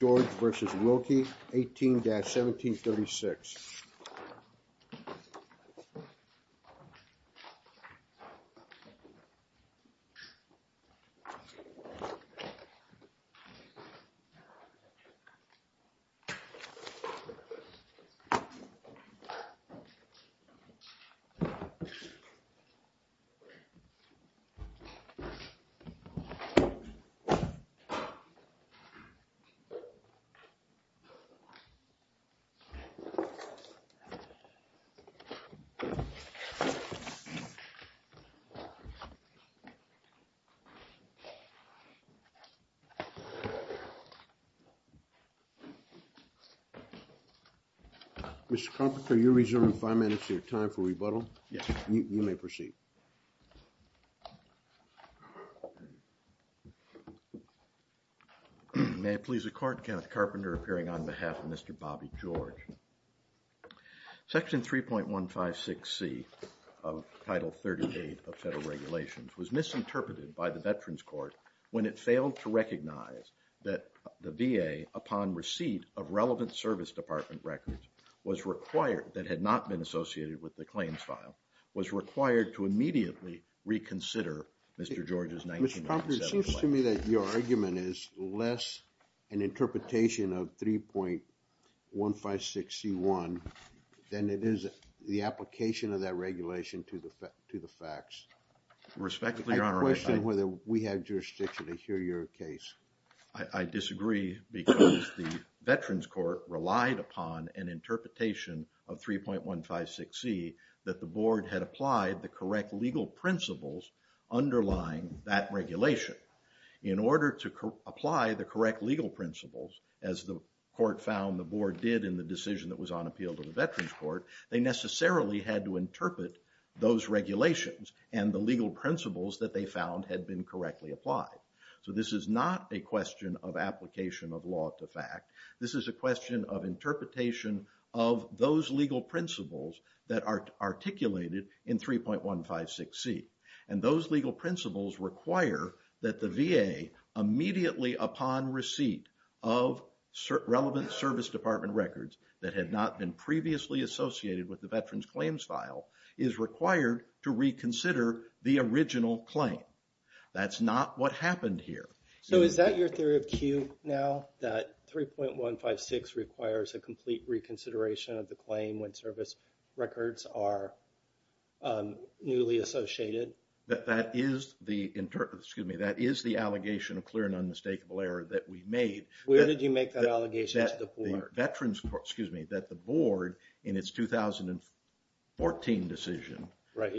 George v. Wilkie, 18-1736. Mr. Kropick, are you reserving five minutes of your time for rebuttal? Yes. You may proceed. May it please the Court, Kenneth Carpenter appearing on behalf of Mr. Bobby George. Section 3.156C of Title 38 of federal regulations was misinterpreted by the Veterans Court when it failed to recognize that the VA, upon receipt of relevant service department records, was required, that had not been associated with the claims file, was required to immediately reconsider Mr. George's 1997 claim. Mr. Carpenter, it seems to me that your argument is less an interpretation of 3.156C1 than it is the application of that regulation to the facts. Respectfully, Your Honor, I... I question whether we have jurisdiction to hear your case. I disagree because the Veterans Court relied upon an interpretation of 3.156C that the Board had applied the correct legal principles underlying that regulation. In order to apply the correct legal principles, as the Court found the Board did in the decision that was on appeal to the Veterans Court, they necessarily had to interpret those regulations and the legal principles that they found had been correctly applied. So this is not a question of application of law to fact. This is a question of interpretation of those legal principles that are articulated in 3.156C. And those legal principles require that the VA, immediately upon receipt of relevant service department records that had not been previously associated with the Veterans Claims File, is required to reconsider the original claim. That's not what happened here. So is that your theory of cue now, that 3.156 requires a complete reconsideration of the claim when service records are newly associated? That is the, excuse me, that is the allegation of clear and unmistakable error that we made. Where did you make that allegation to the Board? Veterans Court, excuse me, that the Board in its 2014 decision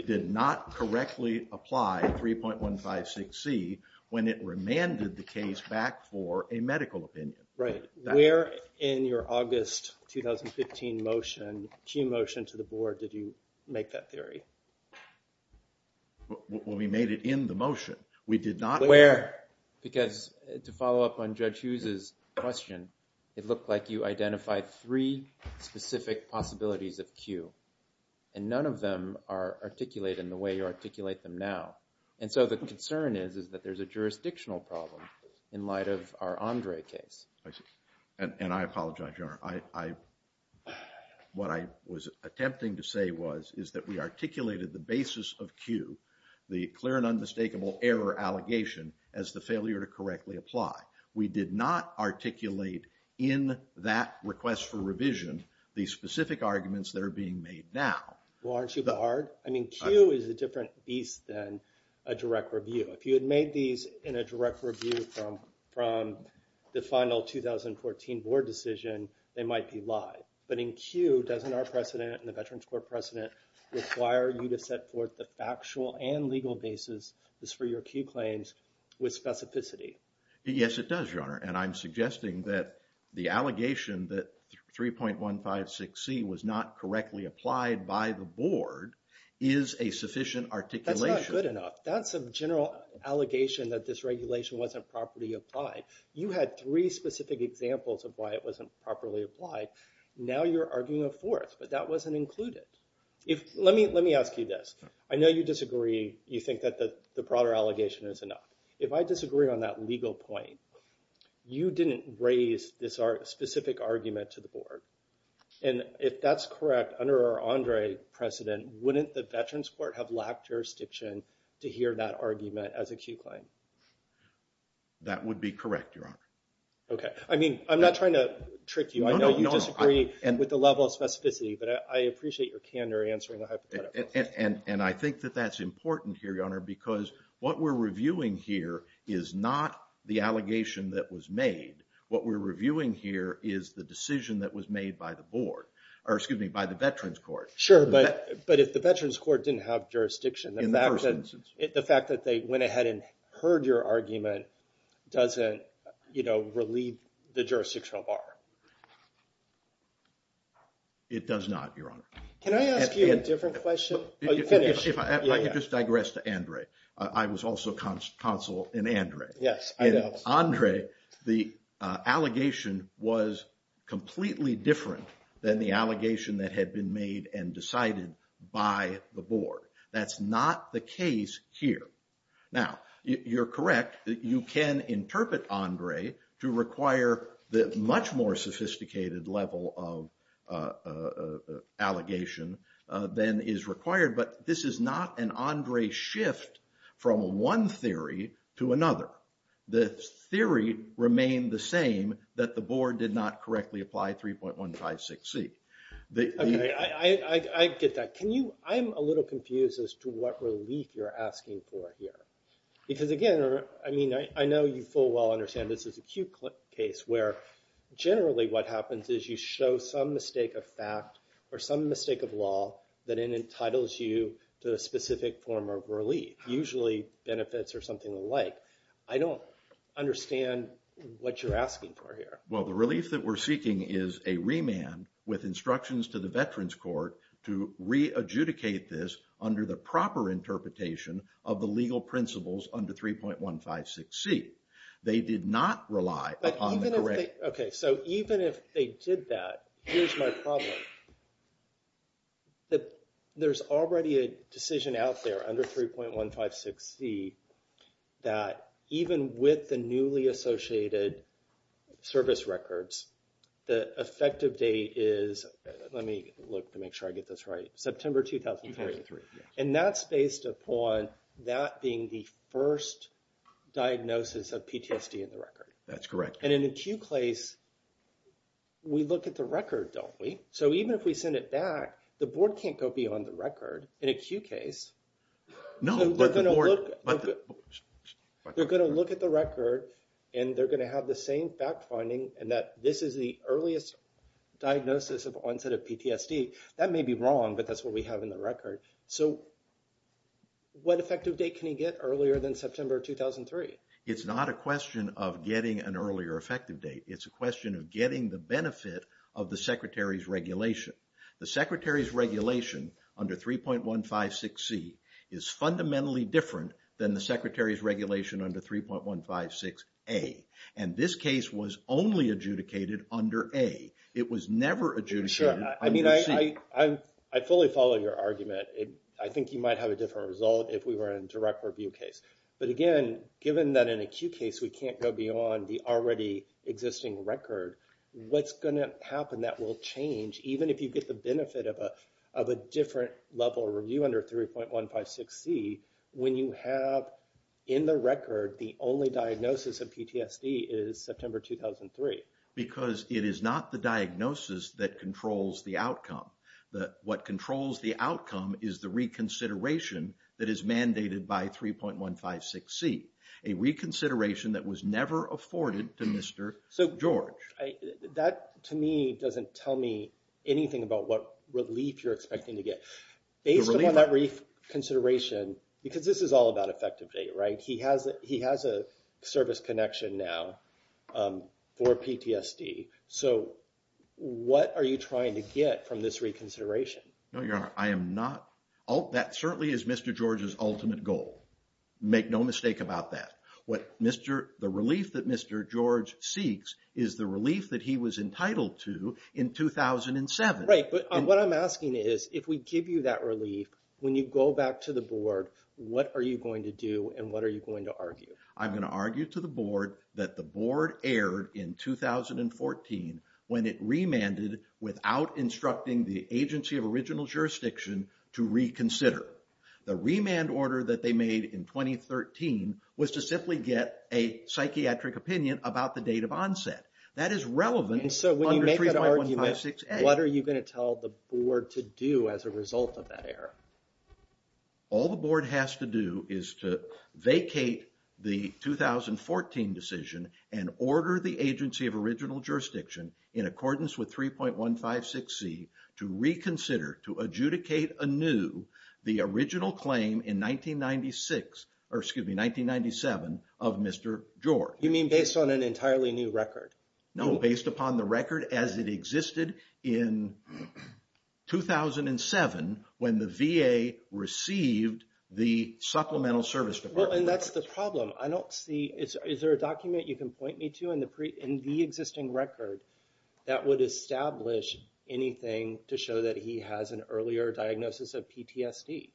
did not correctly apply 3.156C when it remanded the case back for a medical opinion. Right. Where in your August 2015 motion, cue motion to the Board, did you make that theory? We made it in the motion. We did not... Where? Because to follow up on Judge Hughes' question, it looked like you identified three specific possibilities of cue. And none of them are articulated in the way you articulate them now. And so the concern is that there's a jurisdictional problem in light of our Andre case. What I was attempting to say was, is that we articulated the basis of cue, the clear and unmistakable error allegation, as the failure to correctly apply. We did not articulate in that request for revision the specific arguments that are being made now. Well, aren't you barred? I mean, cue is a different beast than a direct review. If you had made these in a direct review from the final 2014 Board decision, they might be lied. But in cue, doesn't our precedent and the Veterans Court precedent require you to set forth the factual and legal basis for your cue claims with specificity? Yes, it does, Your Honor. And I'm suggesting that the allegation that 3.156C was not correctly applied by the Board is a sufficient articulation. That's not good enough. That's a general allegation that this regulation wasn't properly applied. You had three specific examples of why it wasn't properly applied. Now you're arguing a fourth, but that wasn't included. Let me ask you this. I know you disagree. You think that the broader allegation is enough. If I disagree on that legal point, you didn't raise this specific argument to the Board. And if that's correct, under our Andre precedent, wouldn't the Veterans Court have lacked jurisdiction to hear that argument as a cue claim? That would be correct, Your Honor. Okay. I mean, I'm not trying to trick you. I know you disagree with the level of specificity, but I appreciate your candor answering the hypothetical. And I think that that's important here, Your Honor, because what we're reviewing here is not the allegation that was made. What we're reviewing here is the decision that was made by the Board, or excuse me, by the Veterans Court. Sure, but if the Veterans Court didn't have jurisdiction, the fact that they went ahead and heard your argument doesn't relieve the jurisdictional bar. It does not, Your Honor. Can I ask you a different question? If I could just digress to Andre. I was also counsel in Andre. Yes, I know. Andre, the allegation was completely different than the allegation that had been made and decided by the Board. That's not the case here. Now, you're correct that you can interpret Andre to require the much more sophisticated level of allegation than is required. But this is not an Andre shift from one theory to another. The theory remained the same, that the Board did not correctly apply 3.156C. Okay, I get that. I'm a little confused as to what relief you're asking for here. Because again, I mean, I know you full well understand this is acute case where generally what happens is you show some mistake of fact or some mistake of law that entitles you to a specific form of relief. Usually benefits or something like. I don't understand what you're asking for here. Well, the relief that we're seeking is a remand with instructions to the Veterans Court to re-adjudicate this under the proper interpretation of the legal principles under 3.156C. Okay, so even if they did that, here's my problem. There's already a decision out there under 3.156C that even with the newly associated service records, the effective date is, let me look to make sure I get this right, September 2003. And that's based upon that being the first diagnosis of PTSD in the record. That's correct. And in acute case, we look at the record, don't we? So even if we send it back, the Board can't go beyond the record in acute case. No, but the Board. They're going to look at the record and they're going to have the same fact finding and that this is the earliest diagnosis of onset of PTSD. That may be wrong, but that's what we have in the record. So what effective date can you get earlier than September 2003? It's not a question of getting an earlier effective date. It's a question of getting the benefit of the Secretary's regulation. The Secretary's regulation under 3.156C is fundamentally different than the Secretary's regulation under 3.156A. And this case was only adjudicated under A. It was never adjudicated under C. I fully follow your argument. I think you might have a different result if we were in a direct review case. But again, given that in acute case we can't go beyond the already existing record, what's going to happen that will change, even if you get the benefit of a different level review under 3.156C, when you have in the record the only diagnosis of PTSD is September 2003? Because it is not the diagnosis that controls the outcome. What controls the outcome is the reconsideration that is mandated by 3.156C, a reconsideration that was never afforded to Mr. George. That, to me, doesn't tell me anything about what relief you're expecting to get. Based upon that reconsideration, because this is all about effective date, right? He has a service connection now for PTSD. So what are you trying to get from this reconsideration? No, Your Honor, I am not. That certainly is Mr. George's ultimate goal. Make no mistake about that. The relief that Mr. George seeks is the relief that he was entitled to in 2007. Right, but what I'm asking is, if we give you that relief, when you go back to the board, what are you going to do and what are you going to argue? I'm going to argue to the board that the board erred in 2014 when it remanded without instructing the agency of original jurisdiction to reconsider. The remand order that they made in 2013 was to simply get a psychiatric opinion about the date of onset. That is relevant under 3.156A. So when you make that argument, what are you going to tell the board to do as a result of that error? All the board has to do is to vacate the 2014 decision and order the agency of original jurisdiction in accordance with 3.156C to reconsider, to adjudicate anew the original claim in 1996, or excuse me, 1997 of Mr. George. You mean based on an entirely new record? No, based upon the record as it existed in 2007 when the VA received the Supplemental Service Department. Well, and that's the problem. Is there a document you can point me to in the existing record that would establish anything to show that he has an earlier diagnosis of PTSD?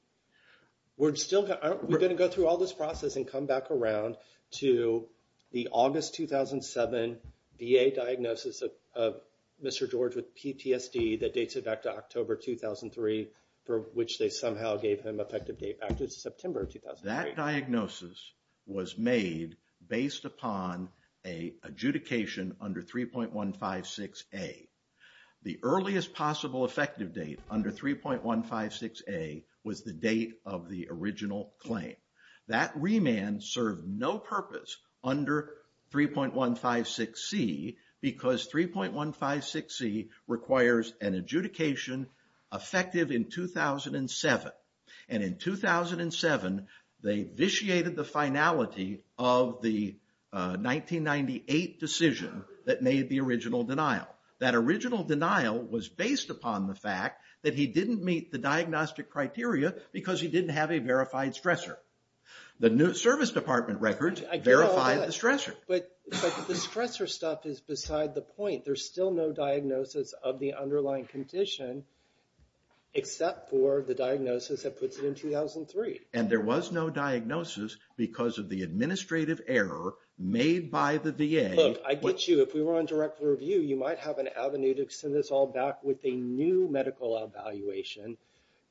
We're going to go through all this process and come back around to the August 2007 VA diagnosis of Mr. George with PTSD that dates it back to October 2003 for which they somehow gave him effective date back to September 2003. That diagnosis was made based upon an adjudication under 3.156A. The earliest possible effective date under 3.156A was the date of the original claim. That remand served no purpose under 3.156C because 3.156C requires an adjudication effective in 2007. And in 2007, they vitiated the finality of the 1998 decision that made the original denial. That original denial was based upon the fact that he didn't meet the diagnostic criteria because he didn't have a verified stressor. The new service department records verified the stressor. But the stressor stuff is beside the point. There's still no diagnosis of the underlying condition except for the diagnosis that puts it in 2003. And there was no diagnosis because of the administrative error made by the VA. Look, I get you. If we were on direct review, you might have an avenue to extend this all back with a new medical evaluation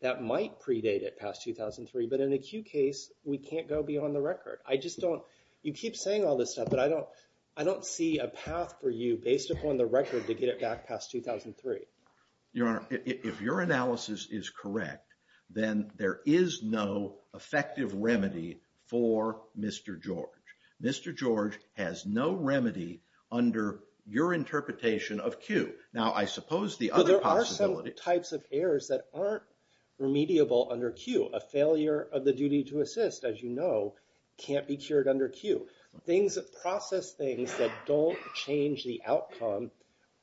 that might predate it past 2003. But in a Q case, we can't go beyond the record. You keep saying all this stuff, but I don't see a path for you based upon the record to get it back past 2003. Your Honor, if your analysis is correct, then there is no effective remedy for Mr. George. Mr. George has no remedy under your interpretation of Q. Now, I suppose the other possibility— But there are some types of errors that aren't remediable under Q. A failure of the duty to assist, as you know, can't be cured under Q. Process things that don't change the outcome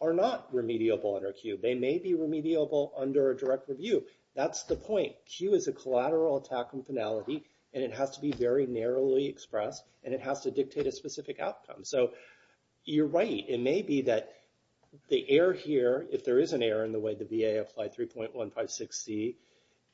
are not remediable under Q. They may be remediable under a direct review. That's the point. But Q is a collateral attack on finality, and it has to be very narrowly expressed, and it has to dictate a specific outcome. So you're right. It may be that the error here, if there is an error in the way the VA applied 3.156C,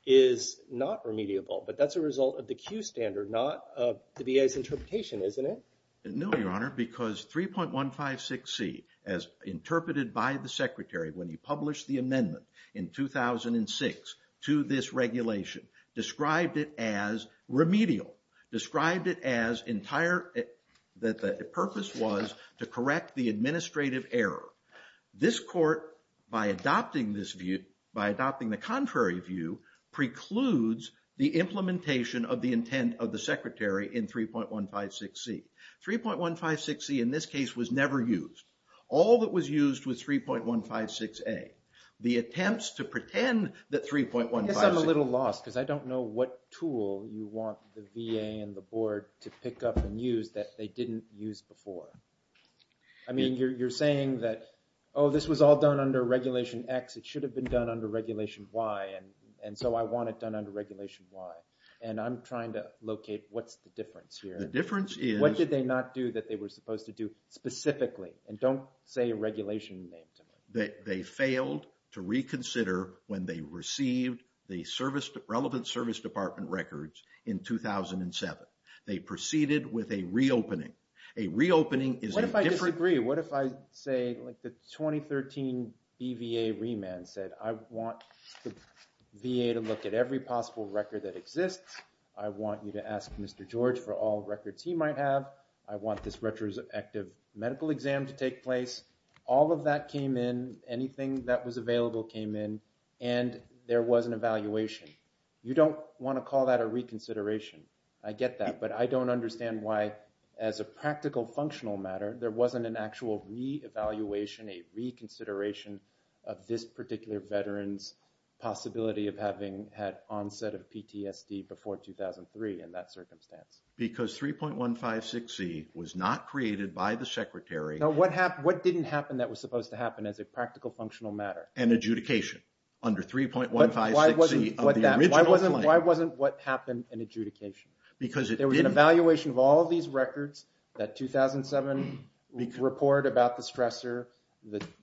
is not remediable. But that's a result of the Q standard, not of the VA's interpretation, isn't it? No, Your Honor, because 3.156C, as interpreted by the Secretary when he published the amendment in 2006 to this regulation, described it as remedial, described it as entire—that the purpose was to correct the administrative error. This Court, by adopting the contrary view, precludes the implementation of the intent of the Secretary in 3.156C. 3.156C in this case was never used. All that was used was 3.156A. The attempts to pretend that 3.156— I guess I'm a little lost, because I don't know what tool you want the VA and the Board to pick up and use that they didn't use before. I mean, you're saying that, oh, this was all done under Regulation X. It should have been done under Regulation Y, and so I want it done under Regulation Y. And I'm trying to locate what's the difference here. The difference is— What did they not do that they were supposed to do specifically? And don't say a regulation name to me. They failed to reconsider when they received the relevant Service Department records in 2007. They proceeded with a reopening. A reopening is a different— What if I disagree? What if I say, like the 2013 BVA remand said, I want the VA to look at every possible record that exists. I want you to ask Mr. George for all records he might have. I want this retroactive medical exam to take place. All of that came in. Anything that was available came in, and there was an evaluation. You don't want to call that a reconsideration. I get that, but I don't understand why, as a practical, functional matter, there wasn't an actual re-evaluation, a reconsideration of this particular veteran's possibility of having had onset of PTSD before 2003 in that circumstance. Because 3.156E was not created by the Secretary. Now, what didn't happen that was supposed to happen as a practical, functional matter? An adjudication under 3.156E of the original— Why wasn't what happened an adjudication? Because it didn't— There was an evaluation of all of these records, that 2007 report about the stressor.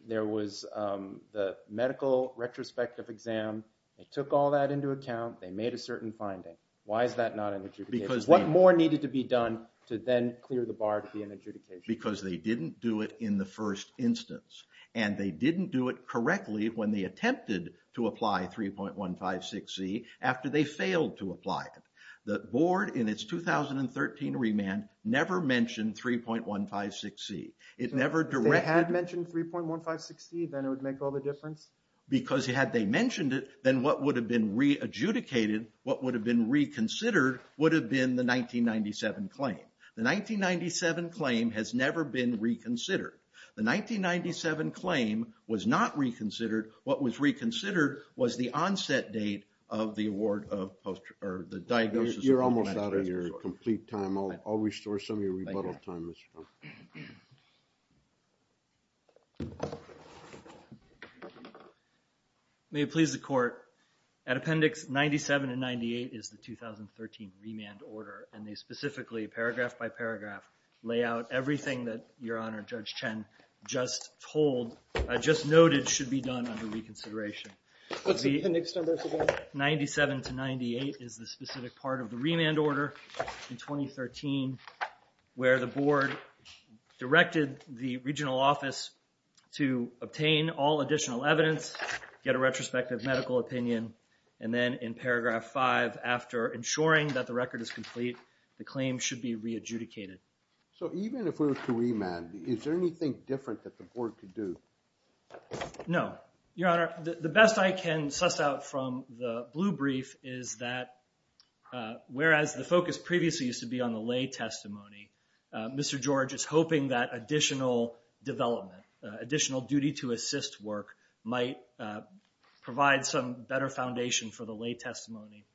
There was the medical retrospective exam. They took all that into account. They made a certain finding. Why is that not an adjudication? Because they— What more needed to be done to then clear the bar to be an adjudication? Because they didn't do it in the first instance, and they didn't do it correctly when they attempted to apply 3.156E after they failed to apply it. The board, in its 2013 remand, never mentioned 3.156E. It never directed— If they had mentioned 3.156E, then it would make all the difference? Because had they mentioned it, then what would have been re-adjudicated, what would have been reconsidered, would have been the 1997 claim. The 1997 claim has never been reconsidered. The 1997 claim was not reconsidered. What was reconsidered was the onset date of the award of—or the diagnosis of— You're almost out of your complete time. I'll restore some of your rebuttal time. May it please the court, at Appendix 97 and 98 is the 2013 remand order, and they specifically, paragraph by paragraph, lay out everything that Your Honor, Judge Chen, just noted should be done under reconsideration. What's the appendix number for that? 97 to 98 is the specific part of the remand order in 2013, where the board directed the regional office to obtain all additional evidence, get a retrospective medical opinion, and then in paragraph five, after ensuring that the record is complete, the claim should be re-adjudicated. So even if we were to remand, is there anything different that the board could do? No. Your Honor, the best I can suss out from the blue brief is that, whereas the focus previously used to be on the lay testimony, Mr. George is hoping that additional development, additional duty to assist work, might provide some better foundation for the lay testimony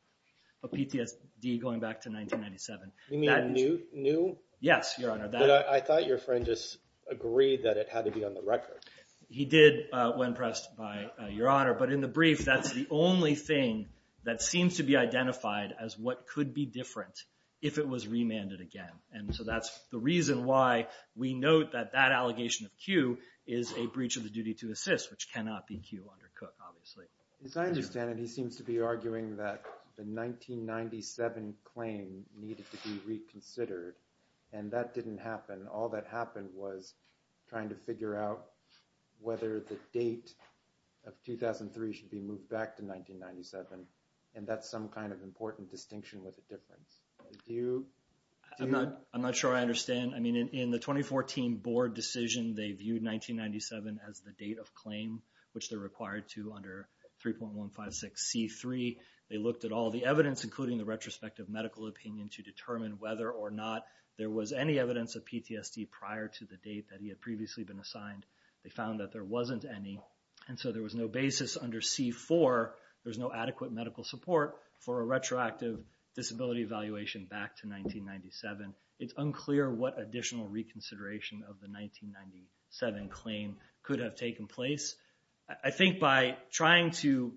of PTSD going back to 1997. You mean new? Yes, Your Honor. I thought your friend just agreed that it had to be on the record. He did, when pressed by Your Honor. But in the brief, that's the only thing that seems to be identified as what could be different if it was remanded again. And so that's the reason why we note that that allegation of Q is a breach of the duty to assist, which cannot be Q under Cook, obviously. As I understand it, he seems to be arguing that the 1997 claim needed to be reconsidered, and that didn't happen. All that happened was trying to figure out whether the date of 2003 should be moved back to 1997, and that's some kind of important distinction with a difference. I'm not sure I understand. I mean, in the 2014 board decision, they viewed 1997 as the date of claim, which they're required to under 3.156C3. They looked at all the evidence, including the retrospective medical opinion, to determine whether or not there was any evidence of PTSD prior to the date that he had previously been assigned. They found that there wasn't any, and so there was no basis under C4. There was no adequate medical support for a retroactive disability evaluation back to 1997. It's unclear what additional reconsideration of the 1997 claim could have taken place. I think by trying to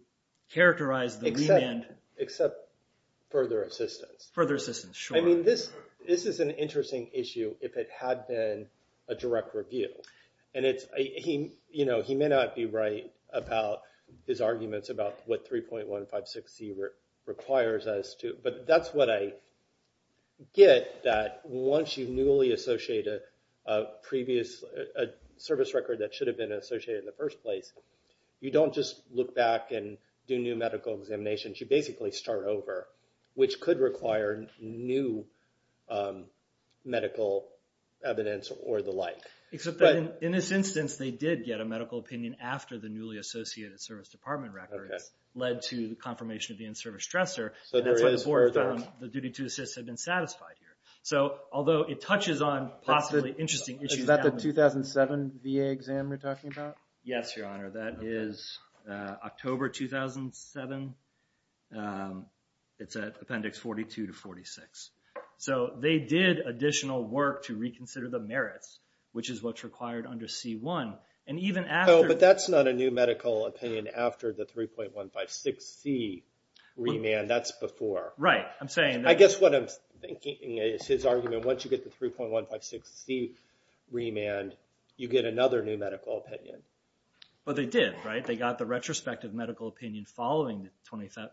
characterize the remand… Except further assistance. Further assistance, sure. I mean, this is an interesting issue if it had been a direct review. He may not be right about his arguments about what 3.156C requires us to, but that's what I get that once you newly associate a previous service record that should have been associated in the first place, you don't just look back and do new medical examinations. You basically start over, which could require new medical evidence or the like. Except that in this instance, they did get a medical opinion after the newly associated service department records led to the confirmation of the in-service stressor. So there is further… And that's what the board found the duty to assist had been satisfied here. So although it touches on possibly interesting issues… Is that the 2007 VA exam you're talking about? Yes, Your Honor. That is October 2007. It's at Appendix 42 to 46. So they did additional work to reconsider the merits, which is what's required under C1. But that's not a new medical opinion after the 3.156C remand. That's before. Right, I'm saying… I guess what I'm thinking is his argument, once you get the 3.156C remand, you get another new medical opinion. But they did, right? They got the retrospective medical opinion following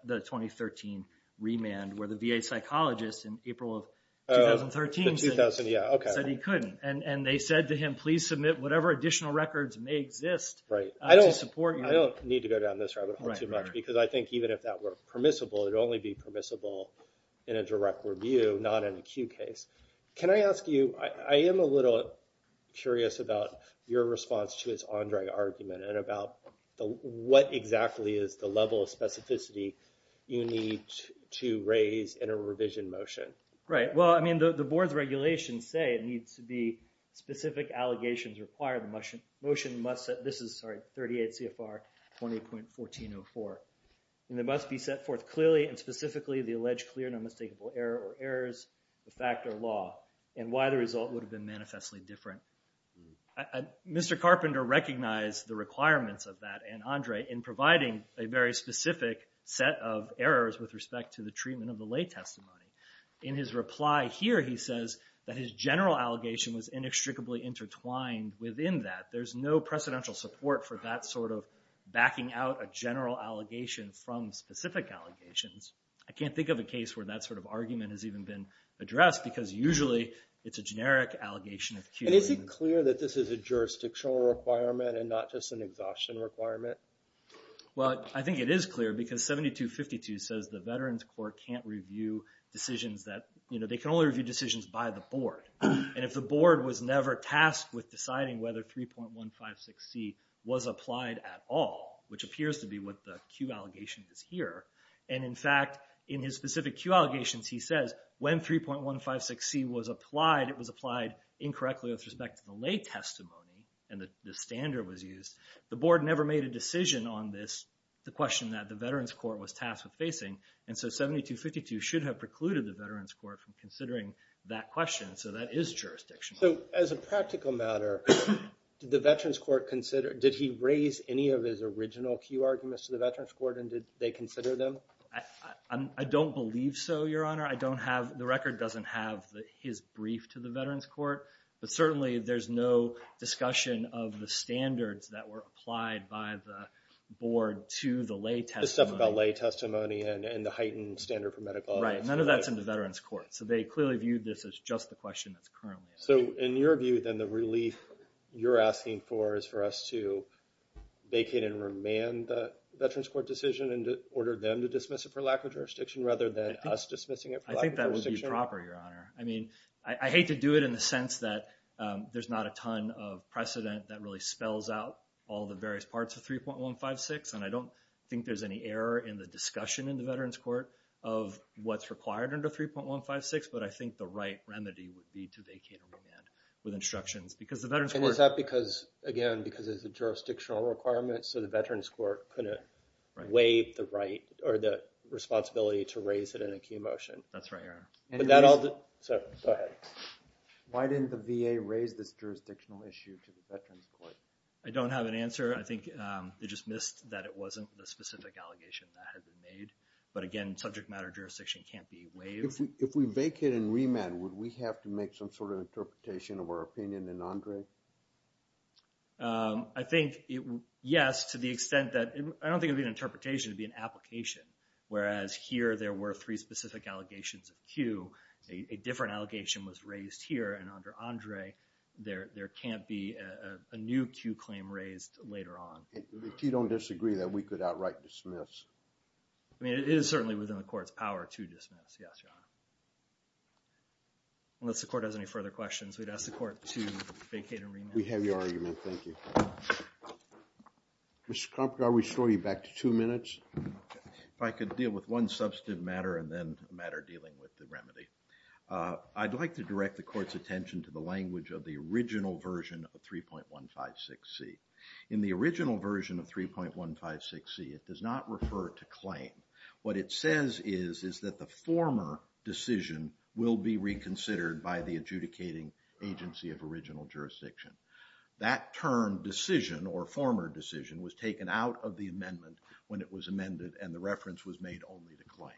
the 2013 remand where the VA psychologist in April of 2013 said he couldn't. And they said to him, please submit whatever additional records may exist to support your… I don't need to go down this rabbit hole too much because I think even if that were permissible, it would only be permissible in a direct review, not an acute case. Can I ask you… I am a little curious about your response to his Andre argument and about what exactly is the level of specificity you need to raise in a revision motion? Right, well, I mean, the board's regulations say it needs to be specific allegations required. The motion must set… This is, sorry, 38 CFR 20.1404. And it must be set forth clearly and specifically the alleged clear and unmistakable error or errors, the fact or law, and why the result would have been manifestly different. Mr. Carpenter recognized the requirements of that and Andre in providing a very specific set of errors with respect to the treatment of the lay testimony. In his reply here, he says that his general allegation was inextricably intertwined within that. There's no precedential support for that sort of backing out a general allegation from specific allegations. I can't think of a case where that sort of argument has even been addressed because usually it's a generic allegation of Q. And is it clear that this is a jurisdictional requirement and not just an exhaustion requirement? Well, I think it is clear because 7252 says the Veterans Court can't review decisions that… They can only review decisions by the board. And if the board was never tasked with deciding whether 3.156C was applied at all, which appears to be what the Q allegation is here, and in fact, in his specific Q allegations, he says when 3.156C was applied, it was applied incorrectly with respect to the lay testimony and the standard was used. The board never made a decision on this, the question that the Veterans Court was tasked with facing. And so 7252 should have precluded the Veterans Court from considering that question, so that is jurisdictional. So as a practical matter, did the Veterans Court consider… Did he raise any of his original Q arguments to the Veterans Court and did they consider them? I don't believe so, Your Honor. The record doesn't have his brief to the Veterans Court, but certainly there's no discussion of the standards that were applied by the board to the lay testimony. The stuff about lay testimony and the heightened standard for medical… Right, none of that's in the Veterans Court. So they clearly viewed this as just the question that's currently… So in your view, then, the relief you're asking for is for us to vacate and remand the Veterans Court decision and order them to dismiss it for lack of jurisdiction rather than us dismissing it for lack of jurisdiction? I think that would be proper, Your Honor. I mean, I hate to do it in the sense that there's not a ton of precedent that really spells out all the various parts of 3.156, and I don't think there's any error in the discussion in the Veterans Court of what's required under 3.156, but I think the right remedy would be to vacate and remand with instructions. And is that because, again, because it's a jurisdictional requirement so the Veterans Court couldn't waive the right or the responsibility to raise it in a key motion? That's right, Your Honor. So, go ahead. Why didn't the VA raise this jurisdictional issue to the Veterans Court? I don't have an answer. I think they dismissed that it wasn't the specific allegation that had been made. But again, subject matter jurisdiction can't be waived. If we vacate and remand, would we have to make some sort of interpretation of our opinion in Andre? I think, yes, to the extent that – I don't think it would be an interpretation, it would be an application. Whereas here, there were three specific allegations of Q. A different allegation was raised here, and under Andre, there can't be a new Q claim raised later on. If you don't disagree, then we could outright dismiss. I mean, it is certainly within the Court's power to dismiss, yes, Your Honor. Unless the Court has any further questions, we'd ask the Court to vacate and remand. We have your argument. Thank you. Mr. Karpke, I'll restore you back to two minutes. If I could deal with one substantive matter and then a matter dealing with the remedy. I'd like to direct the Court's attention to the language of the original version of 3.156C. In the original version of 3.156C, it does not refer to claim. What it says is, is that the former decision will be reconsidered by the adjudicating agency of original jurisdiction. That term, decision, or former decision, was taken out of the amendment when it was amended and the reference was made only to claim.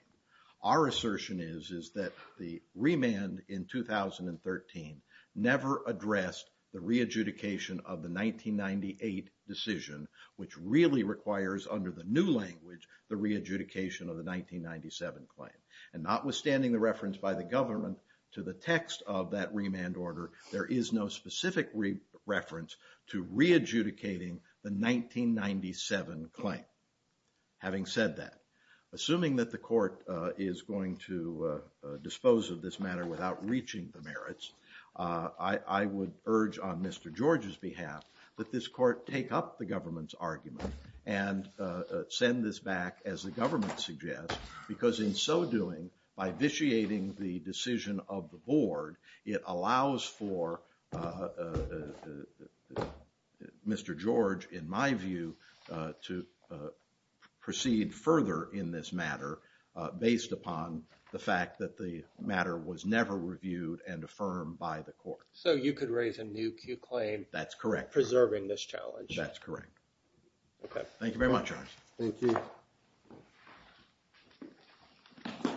Our assertion is that the remand in 2013 never addressed the re-adjudication of the 1998 decision, which really requires, under the new language, the re-adjudication of the 1997 claim. Notwithstanding the reference by the government to the text of that remand order, there is no specific reference to re-adjudicating the 1997 claim. Having said that, assuming that the Court is going to dispose of this matter without reaching the merits, I would urge on Mr. George's behalf that this Court take up the government's argument and send this back, as the government suggests, because in so doing, by vitiating the decision of the Board, it allows for Mr. George, in my view, to proceed further in this matter, based upon the fact that the matter was never reviewed and affirmed by the Court. So you could raise a new Q claim? That's correct. Preserving this challenge? That's correct. Okay. Thank you very much. Thank you.